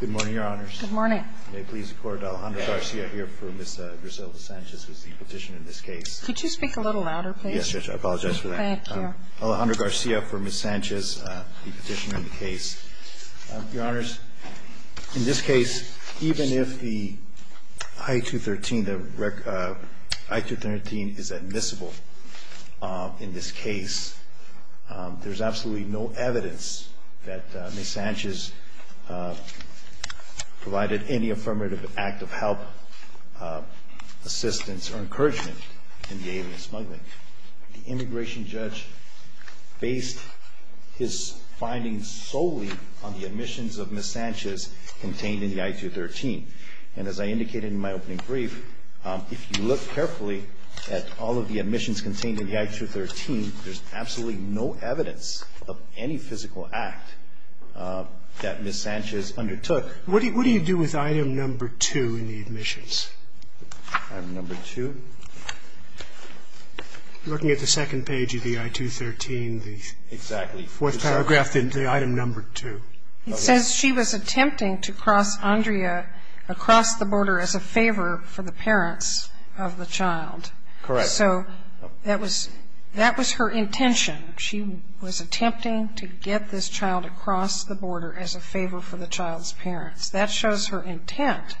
Good morning, your honors. Good morning. May it please the court, Alejandro Garcia here for Ms. Griselda Sanchez, who is the petitioner in this case. Could you speak a little louder, please? Yes, Judge, I apologize for that. Thank you. Alejandro Garcia for Ms. Sanchez, the petitioner in the case. Your honors, in this case, even if the I-213 is admissible in this case, there's absolutely no evidence that Ms. Sanchez provided any affirmative act of help, assistance, or encouragement in the aim of smuggling. The immigration judge based his findings solely on the admissions of Ms. Sanchez contained in the I-213. And as I indicated in my opening brief, if you look carefully at all of the admissions contained in the I-213, there's absolutely no evidence of any physical act that Ms. Sanchez undertook. What do you do with item number two in the admissions? Item number two? Looking at the second page of the I-213, the fourth paragraph, the item number two. It says she was attempting to cross Andrea across the border as a favor for the parents of the child. Correct. So that was her intention. She was attempting to get this child to cross the border as a favor for the child's parents. That shows her intent.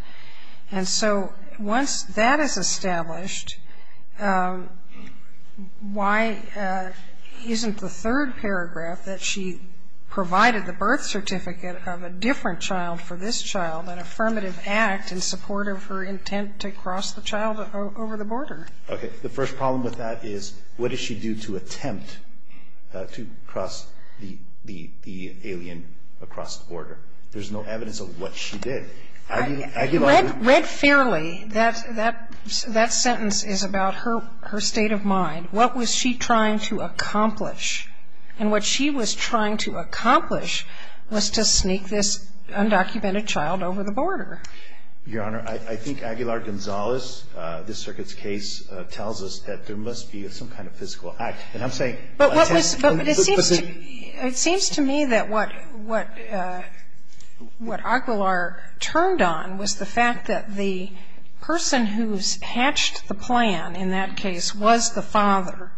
And so once that is established, why isn't the third paragraph that she provided the birth certificate of a different child for this child an affirmative act in support of her intent to cross the child over the border? Okay. The first problem with that is what did she do to attempt to cross the alien across the border? There's no evidence of what she did. Read fairly, that sentence is about her state of mind. What was she trying to accomplish? And what she was trying to accomplish was to sneak this undocumented child over the border. Your Honor, I think Aguilar-Gonzalez, this circuit's case, tells us that there must be some kind of physical act. And I'm saying attempt. But it seems to me that what Aguilar turned on was the fact that the person who's hatched the plan in that case was the father.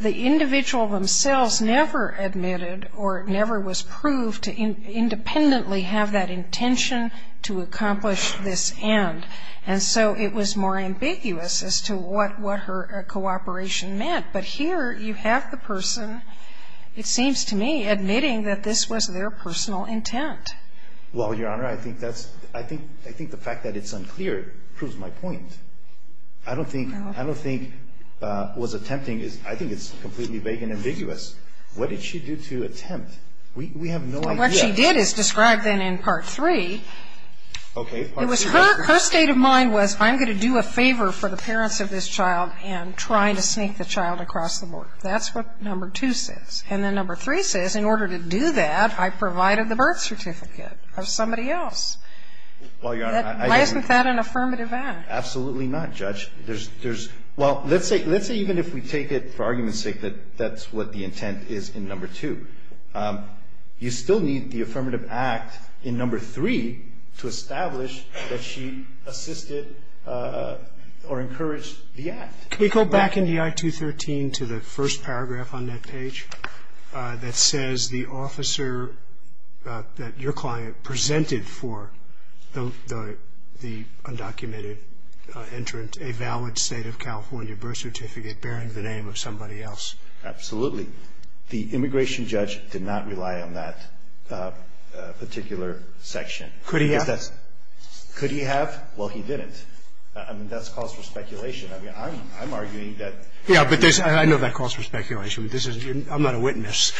The individual themselves never admitted or never was proved to independently have that intention to accomplish this end. And so it was more ambiguous as to what her cooperation meant. But here you have the person, it seems to me, admitting that this was their personal intent. Well, Your Honor, I think the fact that it's unclear proves my point. I don't think what's attempting is, I think it's completely vague and ambiguous. What did she do to attempt? We have no idea. What she did is described then in Part 3. Okay, Part 3. Her state of mind was I'm going to do a favor for the parents of this child and try to sneak the child across the border. That's what Number 2 says. And then Number 3 says in order to do that, I provided the birth certificate of somebody else. Well, Your Honor, I didn't. Isn't that an affirmative act? Absolutely not, Judge. There's, well, let's say even if we take it for argument's sake that that's what the intent is in Number 2. You still need the affirmative act in Number 3 to establish that she assisted or encouraged the act. Can we go back in DI 213 to the first paragraph on that page that says the officer that your client presented for the undocumented entrant a valid State of California birth certificate bearing the name of somebody else? Absolutely. The immigration judge did not rely on that particular section. Could he have? Could he have? Well, he didn't. I mean, that's cause for speculation. I mean, I'm arguing that. Yeah, but there's, I know that cause for speculation. This is, I'm not a witness.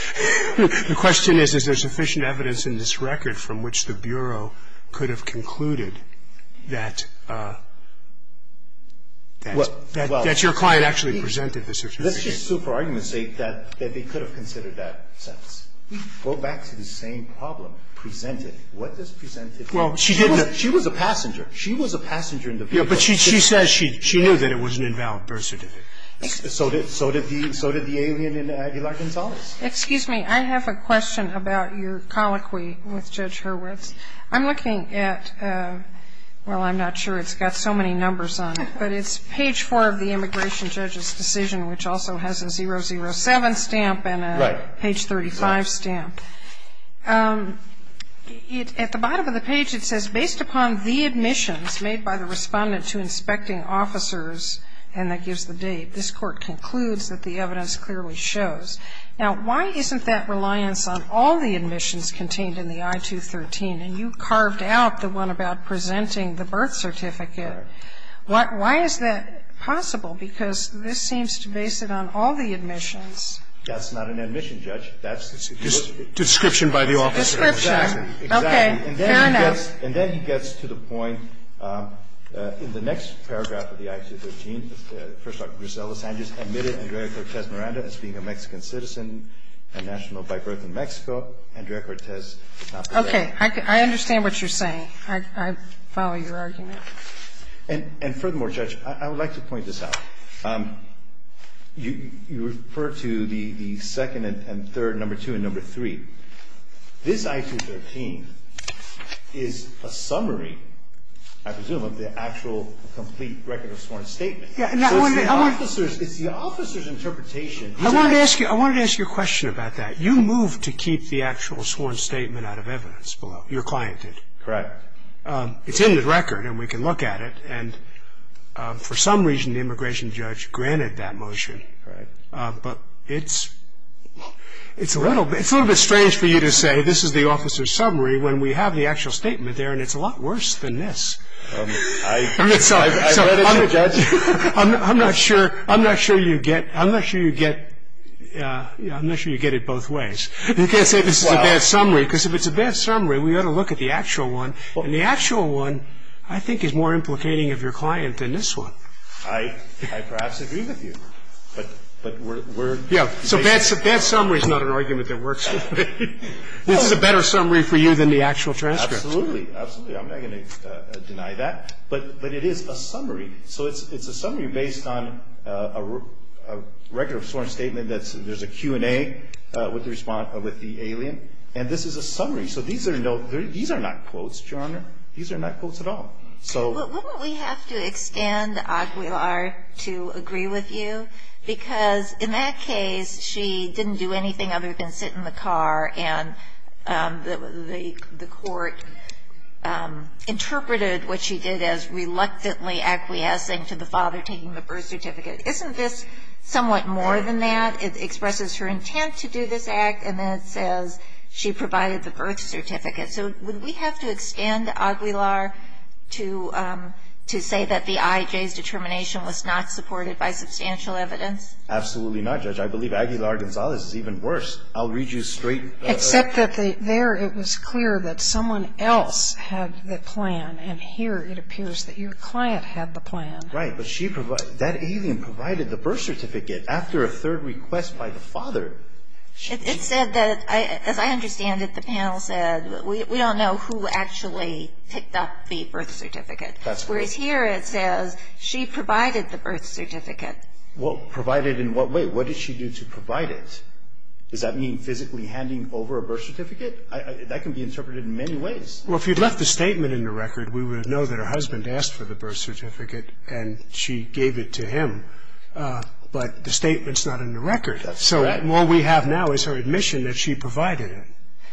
The question is, is there sufficient evidence in this record from which the Bureau could have concluded that your client actually presented this? Let's just sue for argument's sake that they could have considered that sentence. Go back to the same problem. Presented. What does presented mean? Well, she didn't. She was a passenger. She was a passenger in the vehicle. Yeah, but she says she knew that it was an invalid birth certificate. So did the alien in Aguilar-Gonzalez. Excuse me. I have a question about your colloquy with Judge Hurwitz. I'm looking at, well, I'm not sure. It's got so many numbers on it, but it's page four of the immigration judge's decision, which also has a 007 stamp and a page 35 stamp. At the bottom of the page, it says, based upon the admissions made by the respondent to inspecting officers, and that gives the date, this court concludes that the evidence clearly shows. Now, why isn't that reliance on all the admissions contained in the I-213? And you carved out the one about presenting the birth certificate. Why is that possible? Because this seems to base it on all the admissions. That's not an admission, Judge. Description by the officer. Description. Exactly. Okay. Fair enough. And then he gets to the point in the next paragraph of the I-213. First, Dr. Grisela Sanchez admitted Andrea Cortez Miranda as being a Mexican citizen and national by birth in Mexico. Andrea Cortez did not. Okay. I understand what you're saying. I follow your argument. And furthermore, Judge, I would like to point this out. You refer to the second and third, number two and number three. This I-213 is a summary, I presume, of the actual complete record of sworn statement. Yeah. So it's the officer's interpretation. I wanted to ask you a question about that. You moved to keep the actual sworn statement out of evidence below. You're cliented. Correct. It's in the record, and we can look at it. And for some reason, the immigration judge granted that motion. Right. But it's a little bit strange for you to say this is the officer's summary when we have the actual statement there, and it's a lot worse than this. I read it, Judge. I'm not sure you get it both ways. You can't say this is a bad summary, because if it's a bad summary, we ought to look at the actual one. And the actual one, I think, is more implicating of your client than this one. I perhaps agree with you. But we're... Yeah. So bad summary is not an argument that works. This is a better summary for you than the actual transcript. Absolutely. Absolutely. I'm not going to deny that. But it is a summary. So it's a summary based on a record of sworn statement. There's a Q&A with the alien. And this is a summary. So these are not quotes, Your Honor. These are not quotes at all. So... Wouldn't we have to extend Aquilar to agree with you? Because in that case, she didn't do anything other than sit in the car, and the court interpreted what she did as reluctantly acquiescing to the father taking the birth certificate. Isn't this somewhat more than that? It expresses her intent to do this act. And then it says she provided the birth certificate. So would we have to extend Aquilar to say that the IJ's determination was not supported by substantial evidence? Absolutely not, Judge. I believe Aquilar Gonzalez is even worse. I'll read you straight... Except that there it was clear that someone else had the plan. And here it appears that your client had the plan. Right. But she provided... But after a third request by the father, she... It said that... As I understand it, the panel said, we don't know who actually picked up the birth certificate. That's right. Whereas, here it says she provided the birth certificate. Well, provided in what way? What did she do to provide it? Does that mean physically handing over a birth certificate? That can be interpreted in many ways. Well, if you'd left a statement in the record, we would know that her husband asked for the birth certificate, and she gave it to him. But the statement's not in the record. That's correct. So all we have now is her admission that she provided it.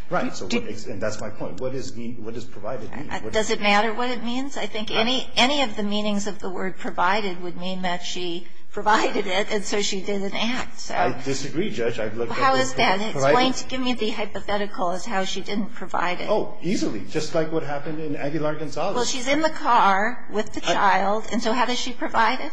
Right. And that's my point. What does provided mean? Does it matter what it means? I think any of the meanings of the word provided would mean that she provided it, and so she didn't act. I disagree, Judge. How is that? It's going to give me the hypothetical as to how she didn't provide it. Oh, easily. Just like what happened in Aquilar Gonzalez. Well, she's in the car with the child, and so how does she provide it?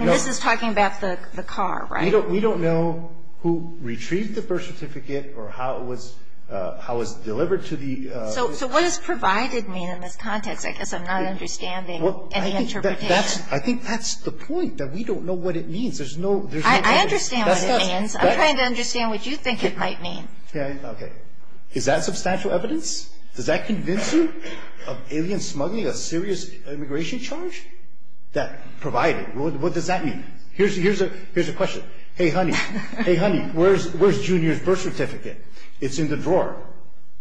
This is talking about the car, right? We don't know who retrieved the birth certificate or how it was delivered to the... So what does provided mean in this context? I guess I'm not understanding any interpretation. I think that's the point, that we don't know what it means. There's no... I understand what it means. I'm trying to understand what you think it might mean. Okay. Is that substantial evidence? Does that convince you of aliens smuggling a serious immigration charge? Provided. What does that mean? Here's a question. Hey, honey. Hey, honey. Where's Junior's birth certificate? It's in the drawer.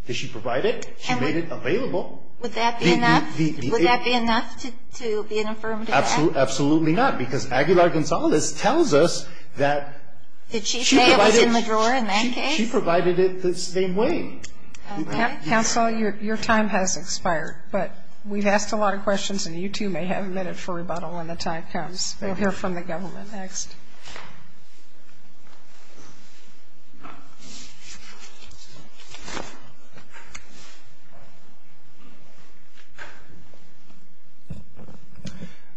Did she provide it? She made it available. Would that be enough? Would that be enough to be an affirmative act? Absolutely not, because Aquilar Gonzalez tells us that... Did she say it was in the drawer in that case? She provided it the same way. Counsel, your time has expired, but we've asked a lot of questions, and you two may have a minute for rebuttal when the time comes. We'll hear from the government next.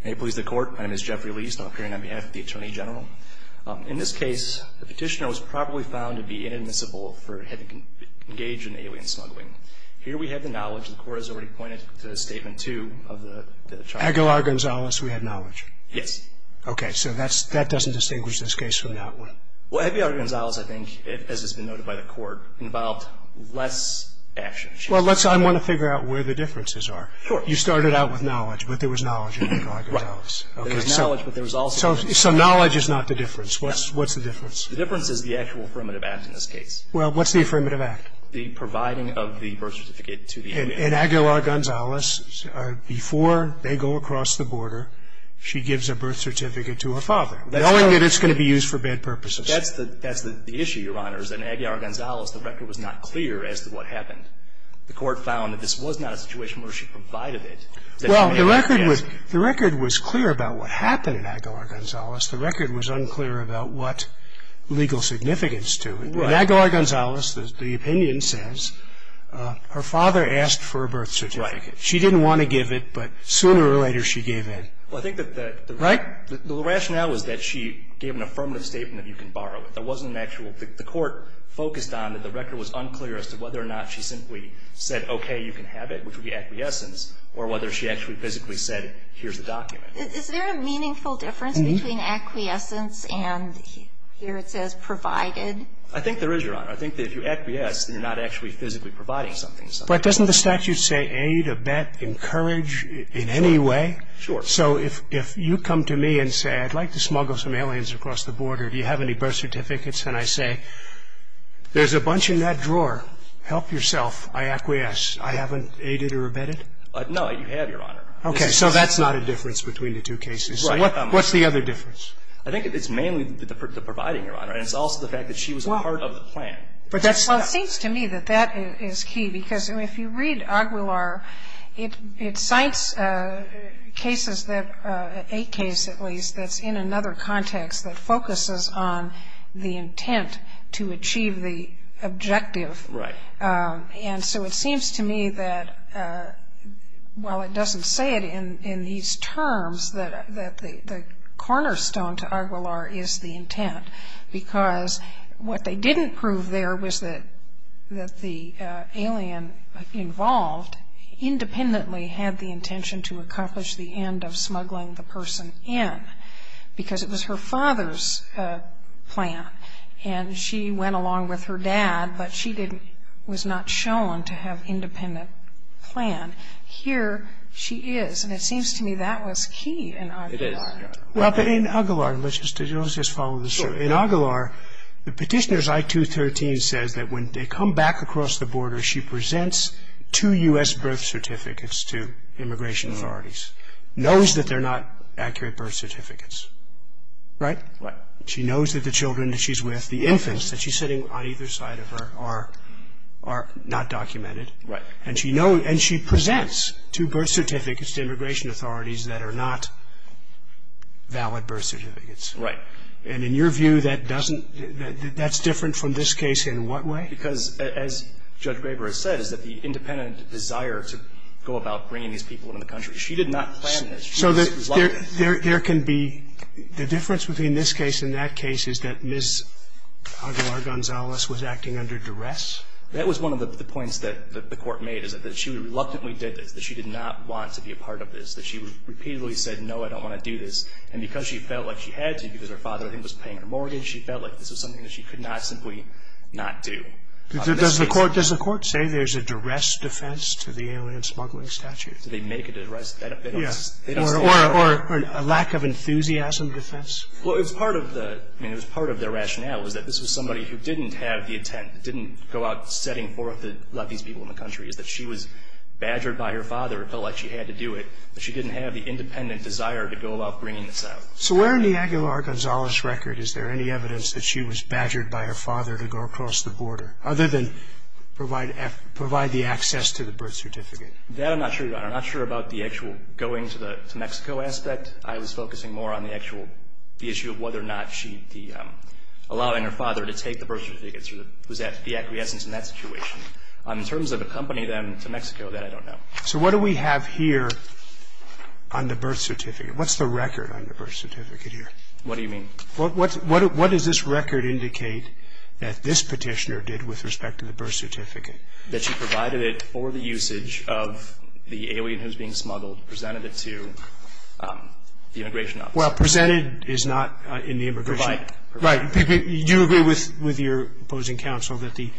May it please the Court. My name is Jeffrey Liest. I'm appearing on behalf of the Attorney General. In this case, the petitioner was probably found to be inadmissible for having engaged in alien smuggling. Here we have the knowledge, which the Court has already pointed to in Statement 2 of the charge. Aquilar Gonzalez, we had knowledge. Yes. Okay, so that doesn't distinguish this case from that one. Well, Aquilar Gonzalez, I think, as has been noted by the Court, involved less action. Well, I want to figure out where the differences are. Sure. You started out with knowledge, but there was knowledge in Aquilar Gonzalez. Right. There was knowledge, but there was also... So knowledge is not the difference. What's the difference? The difference is the actual affirmative act in this case. Well, what's the affirmative act? The providing of the birth certificate to the infant. In Aquilar Gonzalez, before they go across the border, she gives a birth certificate to her father, knowing that it's going to be used for bad purposes. That's the issue, Your Honors. In Aquilar Gonzalez, the record was not clear as to what happened. The Court found that this was not a situation where she provided it. Well, the record was clear about what happened in Aquilar Gonzalez. The record was unclear about what legal significance to it. In Aquilar Gonzalez, the opinion says her father asked for a birth certificate. She didn't want to give it, but sooner or later she gave it. Well, I think that the rationale was that she gave an affirmative statement that you can borrow it. There wasn't an actual... The Court focused on that the record was unclear as to whether or not she simply said, okay, you can have it, which would be acquiescence, or whether she actually physically said, here's the document. Is there a meaningful difference between acquiescence and, here it says, provided? I think there is, Your Honor. I think that if you acquiesce, then you're not actually physically providing something. But doesn't the statute say aid, abet, encourage in any way? Sure. So if you come to me and say, I'd like to smuggle some aliens across the border. Do you have any birth certificates? And I say, there's a bunch in that drawer. Help yourself. I acquiesce. I haven't aided or abetted? No, you have, Your Honor. Okay, so that's not a difference between the two cases. What's the other difference? I think it's mainly the providing, Your Honor. And it's also the fact that she was a part of the plan. Well, it seems to me that that is key, because if you read Aguilar, it cites cases that, a case at least, that's in another context that focuses on the intent to achieve the objective. Right. And so it seems to me that while it doesn't say it in these terms, that the cornerstone to Aguilar is the intent. Because what they didn't prove there was that the alien involved independently had the intention to accomplish the end of smuggling the person in, because it was her father's plan. And she went along with her dad, but she was not shown to have independent plan. Here she is. And it seems to me that was key in Aguilar. It is, Your Honor. Well, but in Aguilar, let's just follow the story. In Aguilar, the Petitioner's I-213 says that when they come back across the border, she presents two U.S. birth certificates to immigration authorities. Knows that they're not accurate birth certificates. Right? Right. She knows that the children that she's with, the infants that she's sitting on either side of her, are not documented. Right. And she presents two birth certificates to immigration authorities that are not valid birth certificates. Right. And in your view, that's different from this case in what way? Because, as Judge Graber has said, is that the independent desire to go about bringing these people into the country, she did not plan this. So there can be the difference between this case and that case is that Ms. Aguilar-Gonzalez was acting under duress? That was one of the points that the Court made, is that she reluctantly did this. That she did not want to be a part of this. That she repeatedly said, no, I don't want to do this. And because she felt like she had to, because her father, I think, was paying her mortgage, she felt like this was something that she could not simply not do. Does the Court say there's a duress defense to the alien smuggling statute? Do they make a duress? Yes. Or a lack of enthusiasm defense? Well, it was part of the rationale was that this was somebody who didn't have the intent, didn't go out setting forth to let these people in the country, is that she was badgered by her father. It felt like she had to do it. But she didn't have the independent desire to go about bringing this out. So where in the Aguilar-Gonzalez record is there any evidence that she was badgered by her father to go across the border, other than provide the access to the birth certificate? That I'm not sure about. I'm not sure about the actual going to Mexico aspect. I was focusing more on the actual issue of whether or not she, allowing her father to take the birth certificate, was the acquiescence in that situation. In terms of accompanying them to Mexico, that I don't know. So what do we have here on the birth certificate? What's the record on the birth certificate here? What do you mean? What does this record indicate that this Petitioner did with respect to the birth certificate? That she provided it for the usage of the alien who's being smuggled, presented it to the immigration officer. Well, presented is not in the immigration. Provided. Right. Do you agree with your opposing counsel that the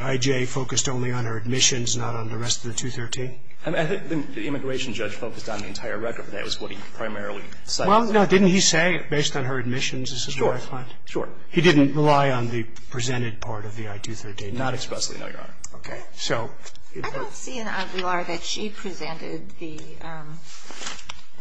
I.J. focused only on her admissions, not on the rest of the 213? I think the immigration judge focused on the entire record. That was what he primarily cited. Well, no. Didn't he say, based on her admissions, this is what I find? Sure. He didn't rely on the presented part of the I.213? Not expressly, no, Your Honor. Okay. I don't see in Aguilar that she presented the, am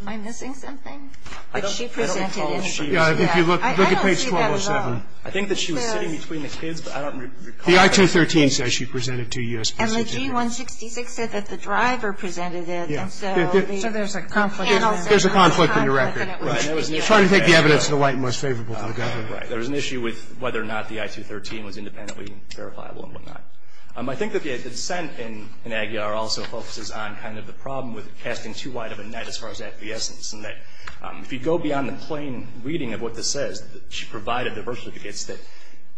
I missing something? I don't recall she was. Look at page 1207. I don't see that at all. I think that she was sitting between the kids, but I don't recall that. The I.213 says she presented to U.S. Petitioners. And the G.166 said that the driver presented it. Yeah. So there's a conflict. There's a conflict in the record. Right. Trying to take the evidence to the light and most favorable for the government. Right. There was an issue with whether or not the I.213 was independently verifiable and whatnot. I think that the dissent in Aguilar also focuses on kind of the problem with casting too wide of a net as far as acquiescence. And that if you go beyond the plain reading of what this says, she provided diversificates that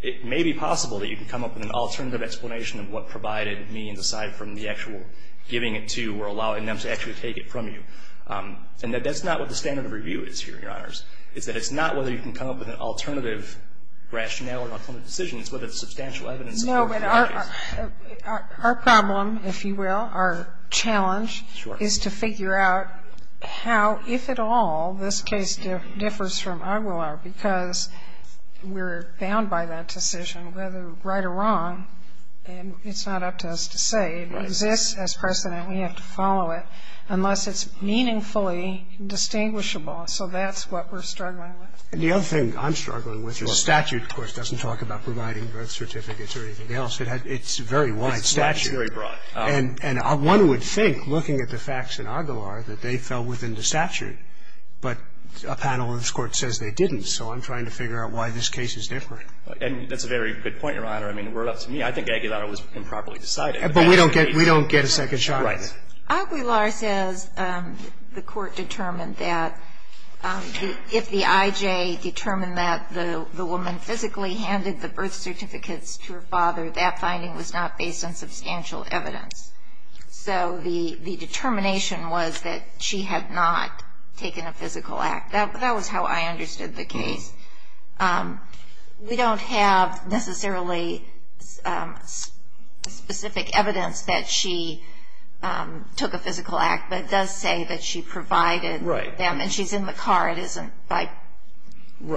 it may be possible that you can come up with an alternative explanation of what provided means aside from the actual giving it to or allowing them to actually take it from you. And that that's not what the standard of review is here, Your Honors. It's that it's not whether you can come up with an alternative rationale or an alternative decision. It's whether there's substantial evidence. No, but our problem, if you will, our challenge. Sure. Is to figure out how, if at all, this case differs from Aguilar because we're bound by that decision, whether right or wrong, and it's not up to us to say. Right. It exists as precedent. We have to follow it unless it's meaningfully distinguishable. So that's what we're struggling with. And the other thing I'm struggling with is statute, of course, doesn't talk about providing birth certificates or anything else. It's very wide statute. It's very broad. And one would think, looking at the facts in Aguilar, that they fell within the statute. But a panel in this Court says they didn't. So I'm trying to figure out why this case is different. And that's a very good point, Your Honor. I mean, word up to me. I think Aguilar was improperly decided. But we don't get a second shot at it. Aguilar says the Court determined that if the I.J. determined that the woman physically handed the birth certificates to her father, that finding was not based on substantial evidence. So the determination was that she had not taken a physical act. That was how I understood the case. We don't have necessarily specific evidence that she took a physical act. But it does say that she provided them. Right. And she's in the car. It isn't by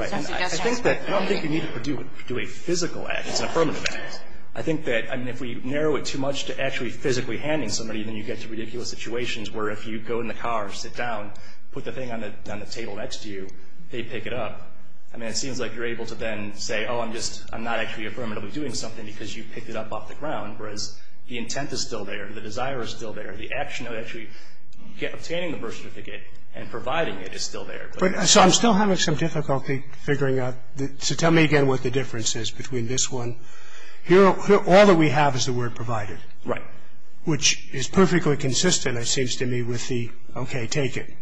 some suggestion. Right. I don't think you need to do a physical act. It's an affirmative act. I think that, I mean, if we narrow it too much to actually physically handing somebody, then you get to ridiculous situations where if you go in the car and sit down, put the thing on the table next to you, they pick it up. I mean, it seems like you're able to then say, oh, I'm not actually affirmatively doing something because you picked it up off the ground, whereas the intent is still there. The desire is still there. The action of actually obtaining the birth certificate and providing it is still there. So I'm still having some difficulty figuring out. So tell me again what the difference is between this one. All that we have is the word provided. Right. Which is perfectly consistent, it seems to me, with the okay, take it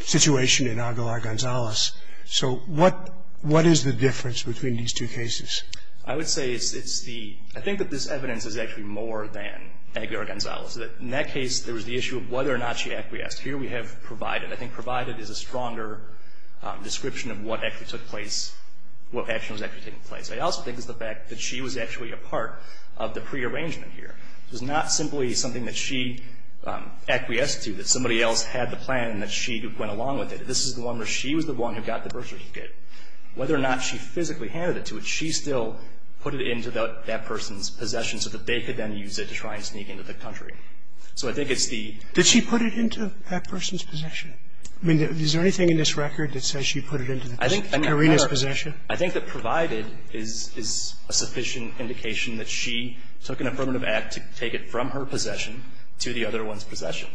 situation in Aguilar-Gonzalez. So what is the difference between these two cases? I would say it's the – I think that this evidence is actually more than Aguilar-Gonzalez. In that case, there was the issue of whether or not she acquiesced. Here we have provided. I think provided is a stronger description of what actually took place, what action was actually taking place. I also think it's the fact that she was actually a part of the prearrangement here. It was not simply something that she acquiesced to, that somebody else had the plan and that she went along with it. This is the one where she was the one who got the birth certificate. Whether or not she physically handed it to her, she still put it into that person's possession so that they could then use it to try and sneak into the country. So I think it's the – I mean, is there anything in this record that says she put it into Karina's possession? I think that provided is a sufficient indication that she took an affirmative act to take it from her possession to the other one's possession.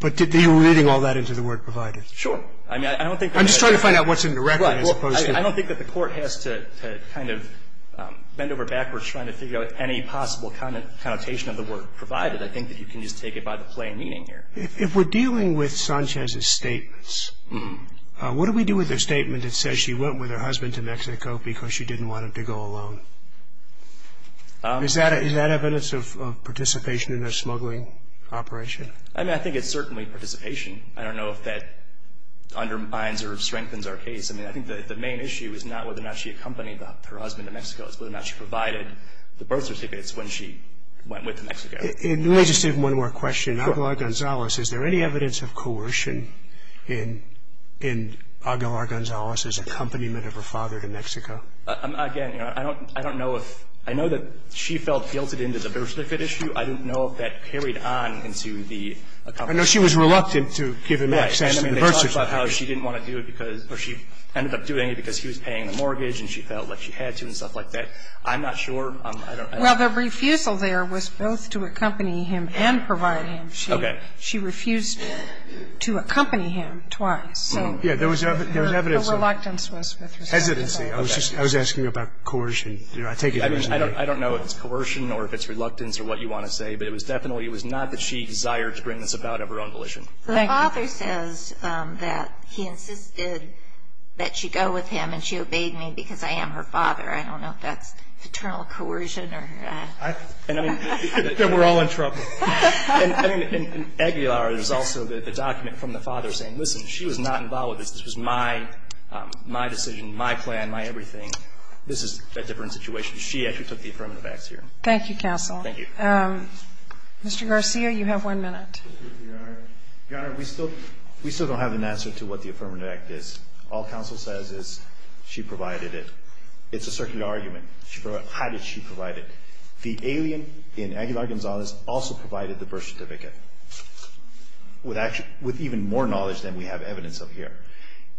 But did you read all that into the word provided? Sure. I mean, I don't think that – I'm just trying to find out what's in the record as opposed to – I don't think that the Court has to kind of bend over backwards trying to figure out any possible connotation of the word provided. I think that you can just take it by the plain meaning here. If we're dealing with Sanchez's statements, what do we do with a statement that says she went with her husband to Mexico because she didn't want him to go alone? Is that evidence of participation in a smuggling operation? I mean, I think it's certainly participation. I don't know if that undermines or strengthens our case. I mean, I think that the main issue is not whether or not she accompanied her husband to Mexico. It's whether or not she provided the birth certificates when she went with to Mexico. Let me just ask one more question. Aguilar-Gonzalez, is there any evidence of coercion in Aguilar-Gonzalez's accompaniment of her father to Mexico? Again, I don't know if – I know that she felt guilted into the birth certificate issue. I don't know if that carried on into the – I know she was reluctant to give him access to the birth certificate. Right. I mean, they talked about how she didn't want to do it because – or she ended up doing it because he was paying the mortgage and she felt like she had to and stuff like that. I'm not sure. Well, the refusal there was both to accompany him and provide him. Okay. She refused to accompany him twice. Yeah. There was evidence. The reluctance was with respect to that. Hesitancy. Okay. I was asking about coercion. I take it originally. I don't know if it's coercion or if it's reluctance or what you want to say. But it was definitely – it was not that she desired to bring this about of her own volition. Thank you. The father says that he insisted that she go with him and she obeyed me because I am her father. I don't know if that's eternal coercion or – Then we're all in trouble. I mean, in Aguilar, there's also the document from the father saying, listen, she was not involved with this. This was my decision, my plan, my everything. This is a different situation. She actually took the Affirmative Act here. Thank you, counsel. Thank you. Mr. Garcia, you have one minute. Your Honor, we still don't have an answer to what the Affirmative Act is. All counsel says is she provided it. It's a circular argument. How did she provide it? The alien in Aguilar-Gonzalez also provided the birth certificate with even more knowledge than we have evidence of here.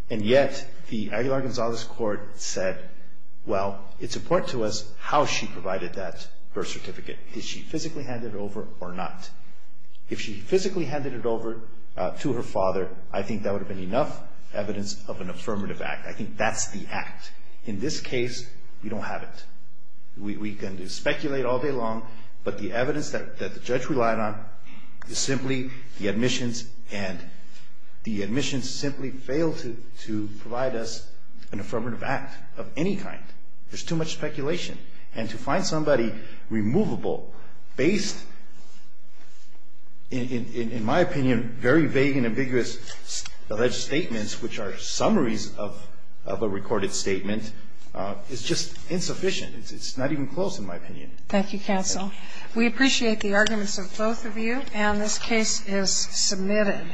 And yet, the Aguilar-Gonzalez court said, well, it's important to us how she provided that birth certificate. Did she physically hand it over or not? If she physically handed it over to her father, I think that would have been enough evidence of an Affirmative Act. I think that's the act. In this case, we don't have it. We can speculate all day long, but the evidence that the judge relied on is simply the admissions, and the admissions simply fail to provide us an Affirmative Act of any kind. There's too much speculation. And to find somebody removable based, in my opinion, very vague and vague argument is just insufficient. It's not even close, in my opinion. Thank you, counsel. We appreciate the arguments of both of you. And this case is submitted.